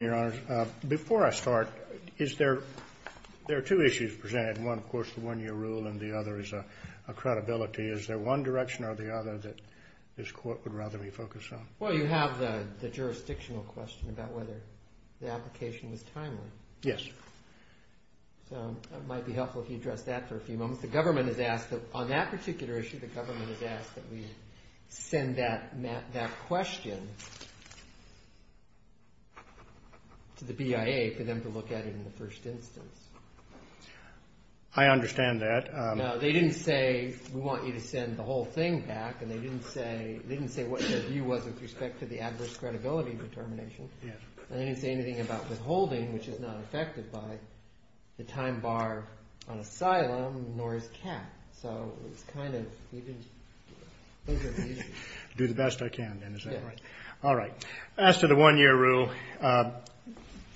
Your Honor, before I start, there are two issues presented. One, of course, the one-year rule, and the other is a credibility. Is there one direction or the other that this Court would rather be focused on? Well, you have the jurisdictional question about whether the application was timely. Yes. So it might be helpful if you address that for a few moments. The government has asked, on that particular issue, the government has asked that we send that question to the BIA for them to look at it in the first instance. I understand that. No, they didn't say, we want you to send the whole thing back, and they didn't say what their view was with respect to the adverse credibility determination. Yes. And they didn't say anything about withholding, which is not affected by the time bar on asylum, nor is cap. So it's kind of, those are the issues. Do the best I can, then, is that right? Yes. All right. As to the one-year rule,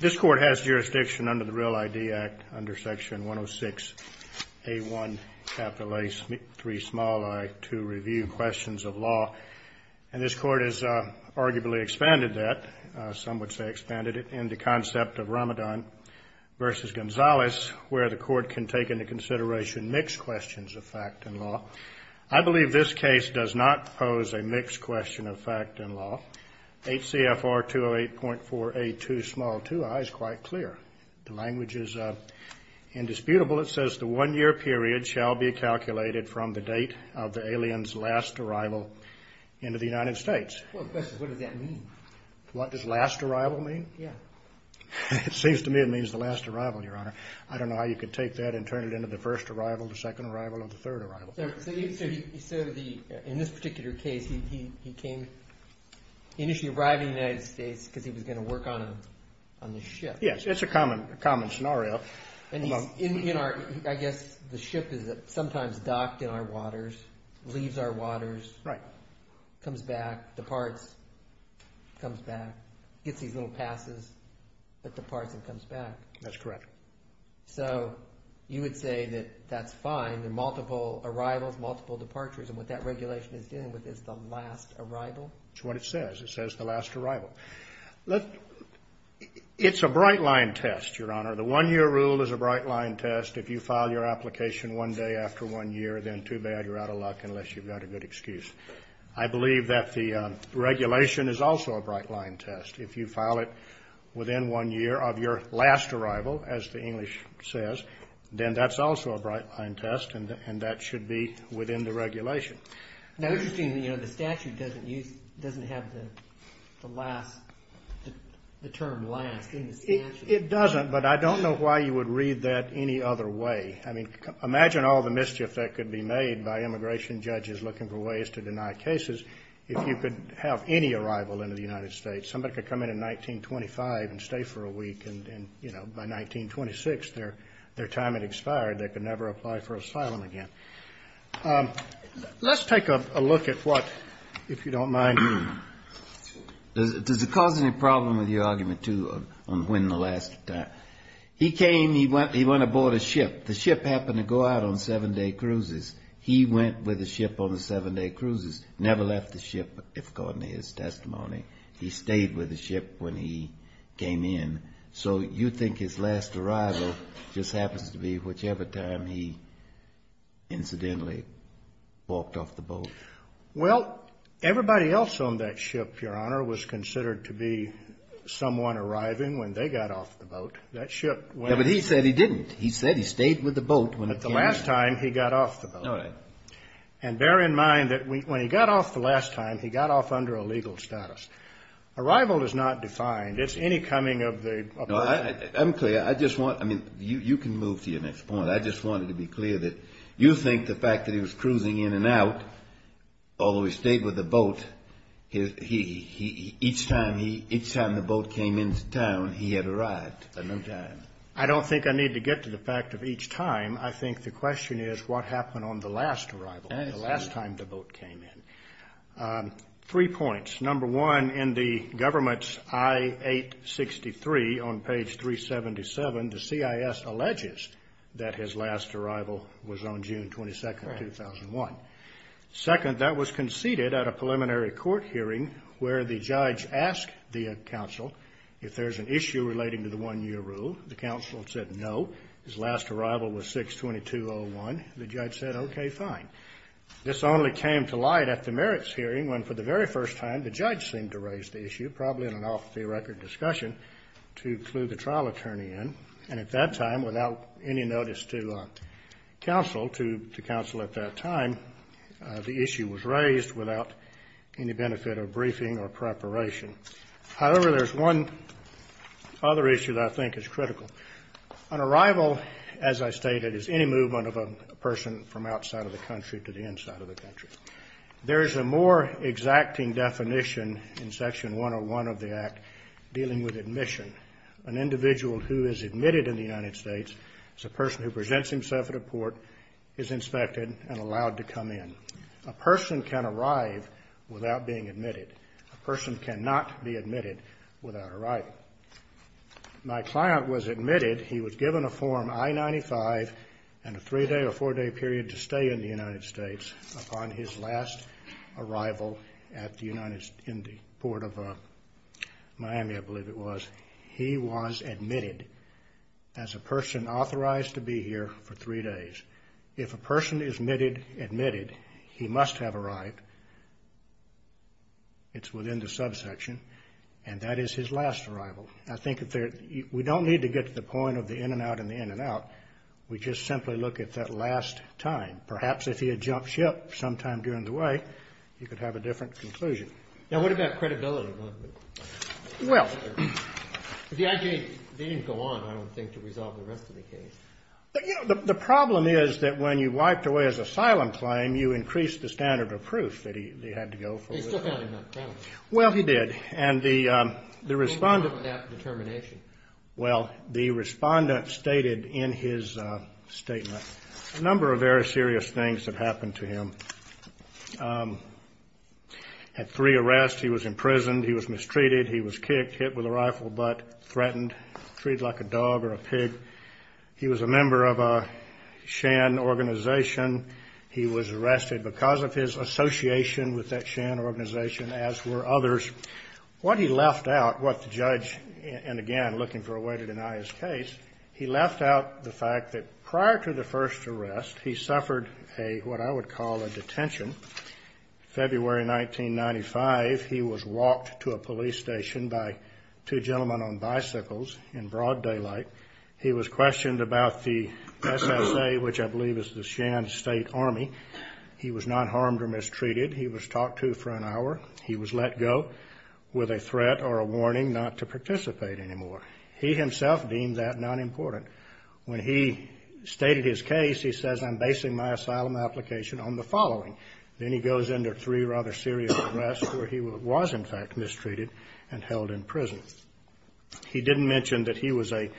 this Court has jurisdiction under the Real ID Act, under Section 106A1, capital A3, small i, to review questions of law. And this Court has arguably expanded that, some would say expanded it, in the concept of Ramadan versus Gonzales, where the Court can take into consideration mixed questions of fact and law. I believe this case does not pose a mixed question of fact and law. HCFR 208.482, small i, is quite clear. The language is indisputable. It says the one-year period shall be calculated from the date of the alien's last arrival into the United States. Well, the question is, what does that mean? What does last arrival mean? Yeah. It seems to me it means the last arrival, Your Honor. I don't know how you could take that and turn it into the first arrival, the second arrival, or the third arrival. So in this particular case, he came, initially arrived in the United States because he was going to work on the ship. Yes. It's a common scenario. And he's in our, I guess the ship is sometimes docked in our waters, leaves our waters. Right. Comes back, departs, comes back, gets these little passes, but departs and comes back. That's correct. So you would say that that's fine, the multiple arrivals, multiple departures, and what that regulation is dealing with is the last arrival? That's what it says. It says the last arrival. It's a bright-line test, Your Honor. The one-year rule is a bright-line test. If you file your application one day after one year, then too bad, you're out of luck unless you've got a good excuse. I believe that the regulation is also a bright-line test. If you file it within one year of your last arrival, as the English says, then that's also a bright-line test, and that should be within the regulation. Now, interestingly, you know, the statute doesn't use, doesn't have the last, the term last in the statute. It doesn't, but I don't know why you would read that any other way. I mean, imagine all the mischief that could be made by immigration judges looking for ways to deny cases. If you could have any arrival into the United States, somebody could come in in 1925 and stay for a week, and, you know, by 1926, their time had expired. They could never apply for asylum again. Let's take a look at what, if you don't mind, does it cause any problem with your argument, too, on when the last time. He came, he went aboard a ship. The ship happened to go out on seven-day cruises. He went with the ship on the seven-day cruises, never left the ship, according to his testimony. He stayed with the ship when he came in. So you think his last arrival just happens to be whichever time he incidentally walked off the boat? Well, everybody else on that ship, Your Honor, was considered to be someone arriving when they got off the boat. That ship went. Yeah, but he said he didn't. He said he stayed with the boat when it came in. The last time he got off the boat. All right. And bear in mind that when he got off the last time, he got off under a legal status. Arrival is not defined. It's any coming of the person. No, I'm clear. I just want, I mean, you can move to your next point. I just wanted to be clear that you think the fact that he was cruising in and out, although he stayed with the boat, each time the boat came into town, he had arrived. At no time. I don't think I need to get to the fact of each time. I think the question is what happened on the last arrival, the last time the boat came in. Three points. Number one, in the government's I-863 on page 377, the CIS alleges that his last arrival was on June 22, 2001. Second, that was conceded at a preliminary court hearing where the judge asked the counsel if there's an issue relating to the one-year rule. The counsel said no. His last arrival was 6-22-01. The judge said, okay, fine. This only came to light at the merits hearing when, for the very first time, the judge seemed to raise the issue, probably in an off-the-record discussion, to clue the trial attorney in. And at that time, without any notice to counsel, to counsel at that time, the issue was raised without any benefit of briefing or preparation. However, there's one other issue that I think is critical. An arrival, as I stated, is any movement of a person from outside of the country to the inside of the country. There is a more exacting definition in Section 101 of the Act dealing with admission. An individual who is admitted in the United States as a person who presents himself at a port is inspected and allowed to come in. A person can arrive without being admitted. A person cannot be admitted without arrival. My client was admitted. He was given a form I-95 and a three-day or four-day period to stay in the United States. Upon his last arrival in the port of Miami, I believe it was, he was admitted as a person authorized to be here for three days. If a person is admitted, he must have arrived. It's within the subsection. And that is his last arrival. I think we don't need to get to the point of the in and out and the in and out. We just simply look at that last time. Perhaps if he had jumped ship sometime during the way, he could have a different conclusion. Now, what about credibility? Well, the IJ, they didn't go on, I don't think, to resolve the rest of the case. But, you know, the problem is that when you wiped away his asylum claim, you increased the standard of proof that he had to go for. He still found him uncreditable. Well, he did. And the respondent. What was wrong with that determination? Well, the respondent stated in his statement a number of very serious things that happened to him. Had three arrests. He was imprisoned. He was mistreated. He was a member of a shan organization. He was arrested because of his association with that shan organization, as were others. What he left out, what the judge, and again, looking for a way to deny his case, he left out the fact that prior to the first arrest, he suffered what I would call a detention. February 1995, he was walked to a police station by two gentlemen on bicycles in broad daylight. He was questioned about the SSA, which I believe is the Shan State Army. He was not harmed or mistreated. He was talked to for an hour. He was let go with a threat or a warning not to participate anymore. He himself deemed that not important. When he stated his case, he says, I'm basing my asylum application on the following. Then he goes under three rather serious arrests where he was, in fact, mistreated and held in prison. He didn't mention that he was a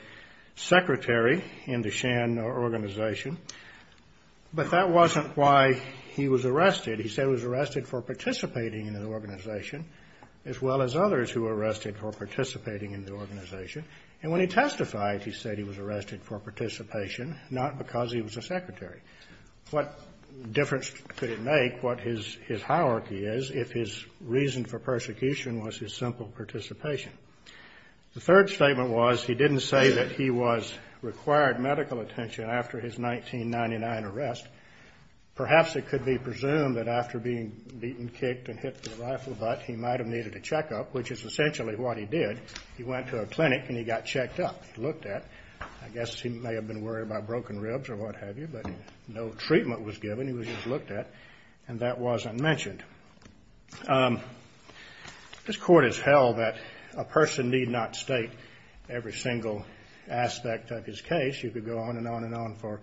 secretary in the Shan organization, but that wasn't why he was arrested. He said he was arrested for participating in an organization, as well as others who were arrested for participating in the organization. And when he testified, he said he was arrested for participation, not because he was a secretary. What difference could it make what his hierarchy is if his reason for persecution was his simple participation? The third statement was he didn't say that he was required medical attention after his 1999 arrest. Perhaps it could be presumed that after being beaten, kicked and hit with a rifle butt, he might have needed a checkup, which is essentially what he did. He went to a clinic and he got checked up, looked at. I guess he may have been worried about broken ribs or what have you, but no treatment was given. He was just looked at, and that wasn't mentioned. This court has held that a person need not state every single aspect of his case. You could go on and on and on for,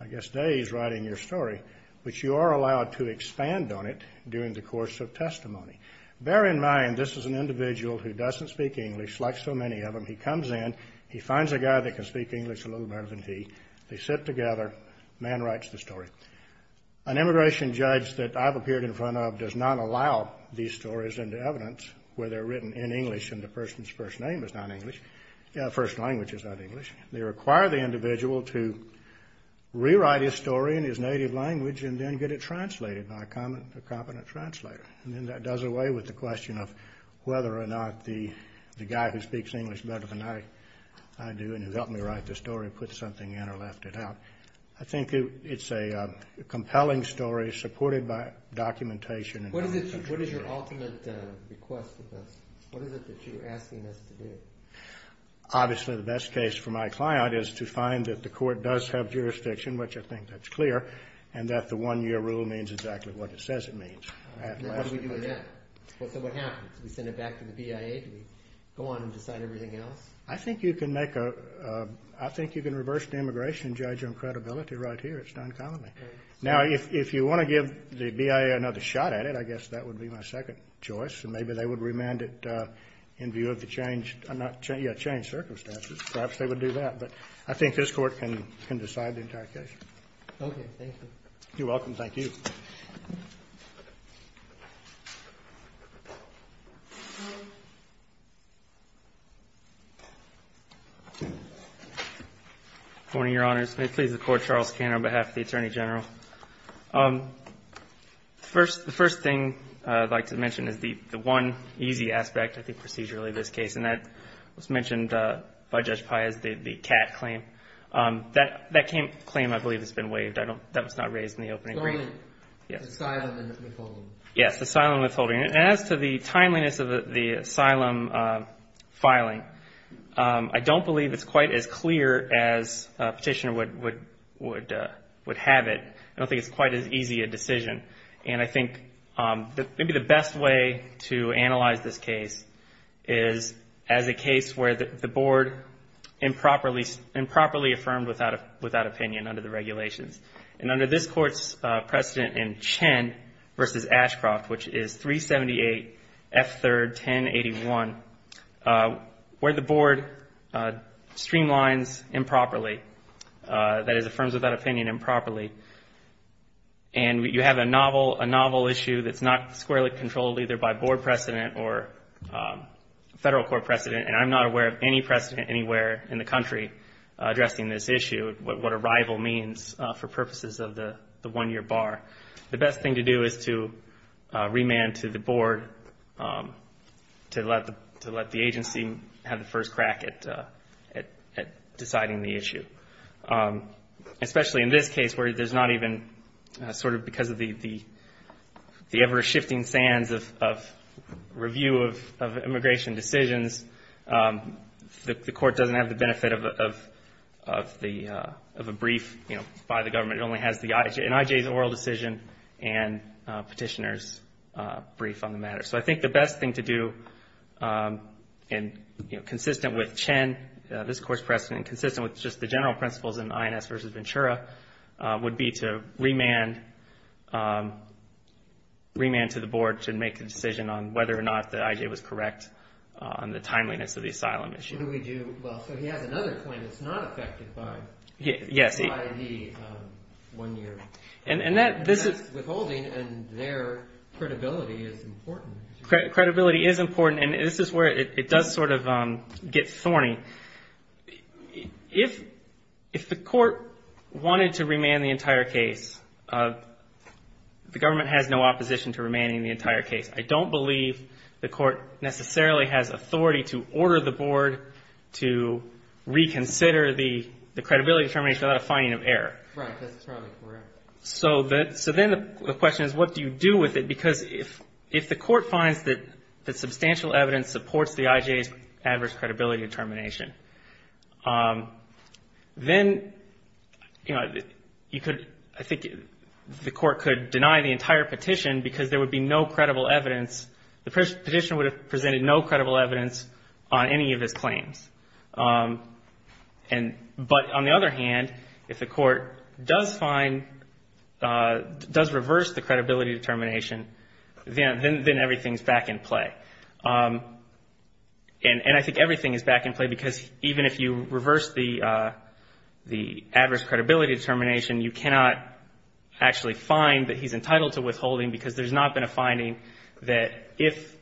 I guess, days writing your story, but you are allowed to expand on it during the course of testimony. Bear in mind, this is an individual who doesn't speak English, like so many of them. He comes in. He finds a guy that can speak English a little better than he. They sit together. The man writes the story. An immigration judge that I've appeared in front of does not allow these stories into evidence where they're written in English and the person's first name is not English, first language is not English. They require the individual to rewrite his story in his native language and then get it translated by a competent translator. And then that does away with the question of whether or not the guy who speaks English better than I do and has helped me write the story put something in or left it out. I think it's a compelling story supported by documentation. What is your ultimate request with this? What is it that you're asking us to do? Obviously, the best case for my client is to find that the court does have jurisdiction, which I think that's clear, and that the one-year rule means exactly what it says it means. What do we do with that? So what happens? Do we send it back to the BIA? Do we go on and decide everything else? I think you can reverse the immigration judge on credibility right here. It's done commonly. Now, if you want to give the BIA another shot at it, I guess that would be my second choice, and maybe they would remand it in view of the changed circumstances. Perhaps they would do that, but I think this court can decide the entire case. Okay. Thank you. You're welcome. Thank you. Good morning, Your Honors. May it please the Court, Charles Kanner on behalf of the Attorney General. The first thing I'd like to mention is the one easy aspect, I think procedurally, of this case, and that was mentioned by Judge Pai as the cat claim. That claim, I believe, has been waived. That was not raised in the opening. The asylum withholding. Yes, the asylum withholding. And as to the timeliness of the asylum filing, I don't believe it's quite as clear as a petitioner would have it. And I think maybe the best way to analyze this case is as a case where the Board improperly affirmed without opinion under the regulations. And under this Court's precedent in Chen v. Ashcroft, which is 378 F. 3rd, 1081, where the Board streamlines improperly, that is, affirms without opinion improperly, and you have a novel issue that's not squarely controlled either by Board precedent or Federal Court precedent, and I'm not aware of any precedent anywhere in the country addressing this issue, what arrival means for purposes of the one-year bar. The best thing to do is to remand to the Board to let the agency have the first crack at deciding the issue. Especially in this case where there's not even sort of because of the ever-shifting sands of review of immigration decisions, the Court doesn't have the benefit of a brief, you know, by the government. It only has an IJ's oral decision and Petitioner's brief on the matter. So I think the best thing to do consistent with Chen, this Court's precedent, consistent with just the general principles in INS v. Ventura would be to remand to the Board to make a decision on whether or not the IJ was correct on the timeliness of the asylum issue. So he has another claim that's not affected by the one-year. And that's withholding, and their credibility is important. Credibility is important, and this is where it does sort of get thorny. If the Court wanted to remand the entire case, the government has no opposition to remanding the entire case. I don't believe the Court necessarily has authority to order the Board to reconsider the credibility determination without a finding of error. Right. That's probably correct. So then the question is, what do you do with it? Because if the Court finds that substantial evidence supports the IJ's adverse credibility determination, then, you know, you could, I think the Court could deny the entire petition because there would be no credible evidence. The Petitioner would have presented no credible evidence on any of his claims. But on the other hand, if the Court does find, does reverse the credibility determination, then everything's back in play. And I think everything is back in play because even if you reverse the adverse credibility determination, you cannot actually find that he's entitled to withholding because there's not been a finding that if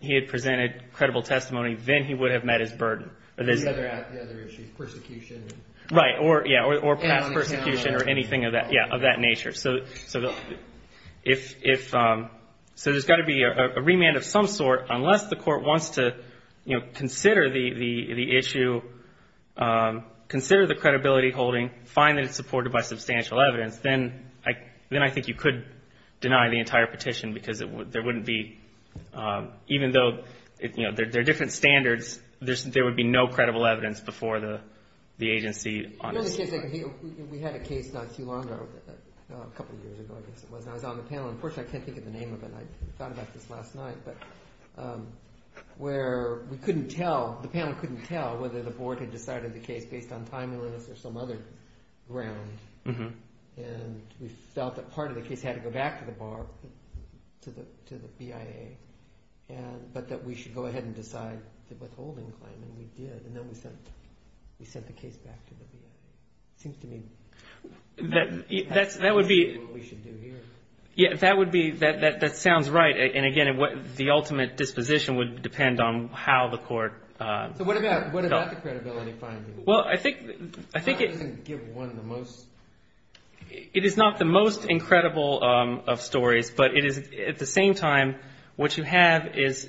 he had presented credible testimony, then he would have met his burden. The other issue is persecution. Right, or past persecution or anything of that nature. So if, so there's got to be a remand of some sort. Unless the Court wants to, you know, consider the issue, consider the credibility holding, find that it's supported by substantial evidence, then I think you could deny the entire petition because there wouldn't be, even though there are different standards, there would be no credible evidence before the agency. We had a case not too long ago, a couple of years ago I guess it was, and I was on the panel and unfortunately I can't think of the name of it. I thought about this last night, but where we couldn't tell, the panel couldn't tell whether the Board had decided the case based on timeliness or some other ground. And we felt that part of the case had to go back to the BAR, to the BIA, but that we should go ahead and decide the withholding claim, and we did. And then we sent the case back to the BIA. It seems to me that's what we should do here. Yeah, that would be, that sounds right. And again, the ultimate disposition would depend on how the Court felt. So what about the credibility finding? Well, I think it is not the most incredible of stories, but it is at the same time what you have is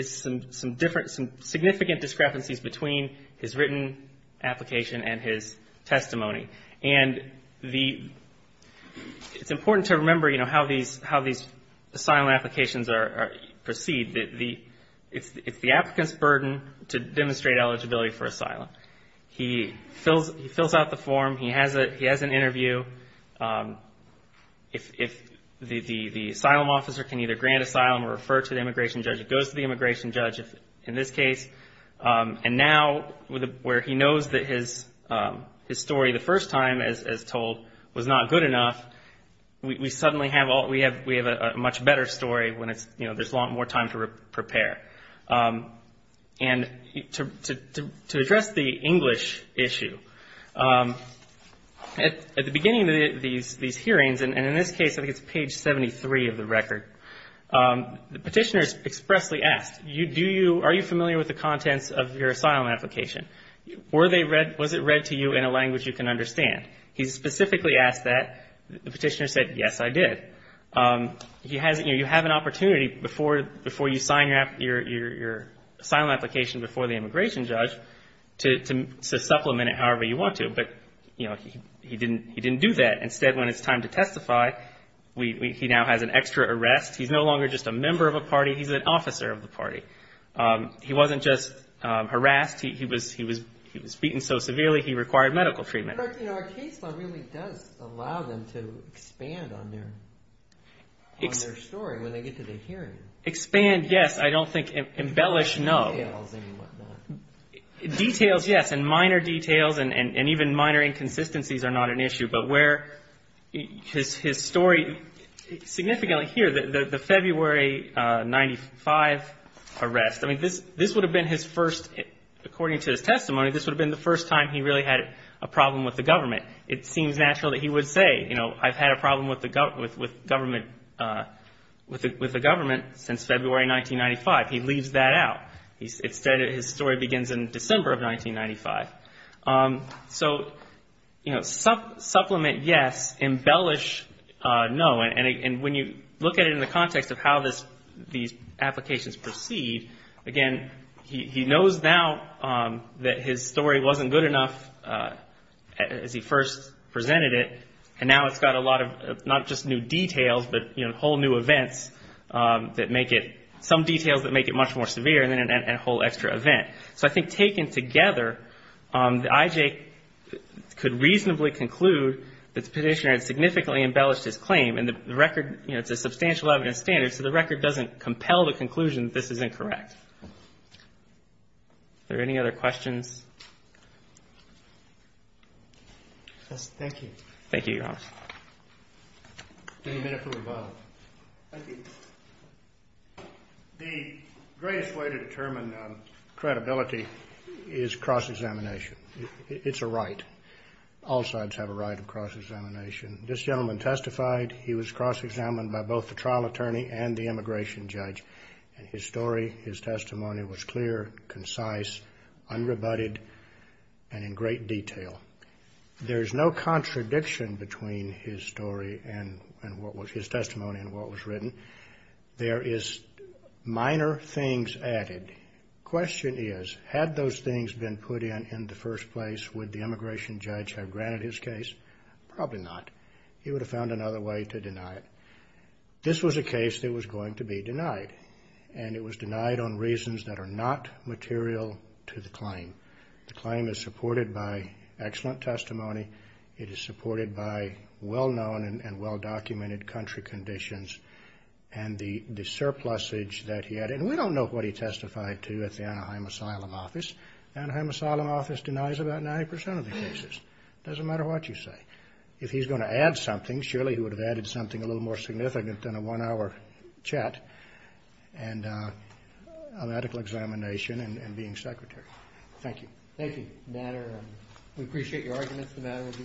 some significant discrepancies between his written application and his testimony. And it's important to remember how these asylum applications proceed. It's the applicant's burden to demonstrate eligibility for asylum. He fills out the form. He has an interview. The asylum officer can either grant asylum or refer to the immigration judge. It goes to the immigration judge in this case. And now where he knows that his story the first time, as told, was not good enough, we suddenly have a much better story when there's a lot more time to prepare. And to address the English issue, at the beginning of these hearings, and in this case I think it's page 73 of the record, the petitioner is expressly asked, are you familiar with the contents of your asylum application? Was it read to you in a language you can understand? He specifically asked that. The petitioner said, yes, I did. You have an opportunity before you sign your asylum application before the immigration judge to supplement it however you want to. But he didn't do that. Instead, when it's time to testify, he now has an extra arrest. He's no longer just a member of a party. He's an officer of the party. He wasn't just harassed. He was beaten so severely he required medical treatment. But our case law really does allow them to expand on their story when they get to the hearing. Expand, yes. I don't think embellish, no. Details and whatnot. Details, yes, and minor details and even minor inconsistencies are not an issue. But where his story significantly here, the February 1995 arrest, I mean this would have been his first, according to his testimony, this would have been the first time he really had a problem with the government. It seems natural that he would say, you know, I've had a problem with the government since February 1995. He leaves that out. Instead, his story begins in December of 1995. So, you know, supplement, yes. Embellish, no. And when you look at it in the context of how these applications proceed, again, he knows now that his story wasn't good enough as he first presented it, and now it's got a lot of not just new details but, you know, whole new events that make it some details that make it much more severe and a whole extra event. So I think taken together, the IJ could reasonably conclude that the petitioner had significantly embellished his claim, and the record, you know, it's a substantial evidence standard, so the record doesn't compel the conclusion that this is incorrect. Are there any other questions? Yes, thank you. Thank you, Your Honor. Any minute from the bottom. Thank you. The greatest way to determine credibility is cross-examination. It's a right. All sides have a right of cross-examination. This gentleman testified. He was cross-examined by both the trial attorney and the immigration judge, and his story, his testimony was clear, concise, unrebutted, and in great detail. There is no contradiction between his story and what was his testimony and what was written. There is minor things added. The question is, had those things been put in in the first place, would the immigration judge have granted his case? Probably not. He would have found another way to deny it. This was a case that was going to be denied, and it was denied on reasons that are not material to the claim. The claim is supported by excellent testimony. It is supported by well-known and well-documented country conditions, and the surplusage that he had, and we don't know what he testified to at the Anaheim Asylum Office. The Anaheim Asylum Office denies about 90% of the cases. It doesn't matter what you say. If he's going to add something, surely he would have added something a little more significant than a one-hour chat and a medical examination and being secretary. Thank you. We appreciate your arguments. The matter will be submitted.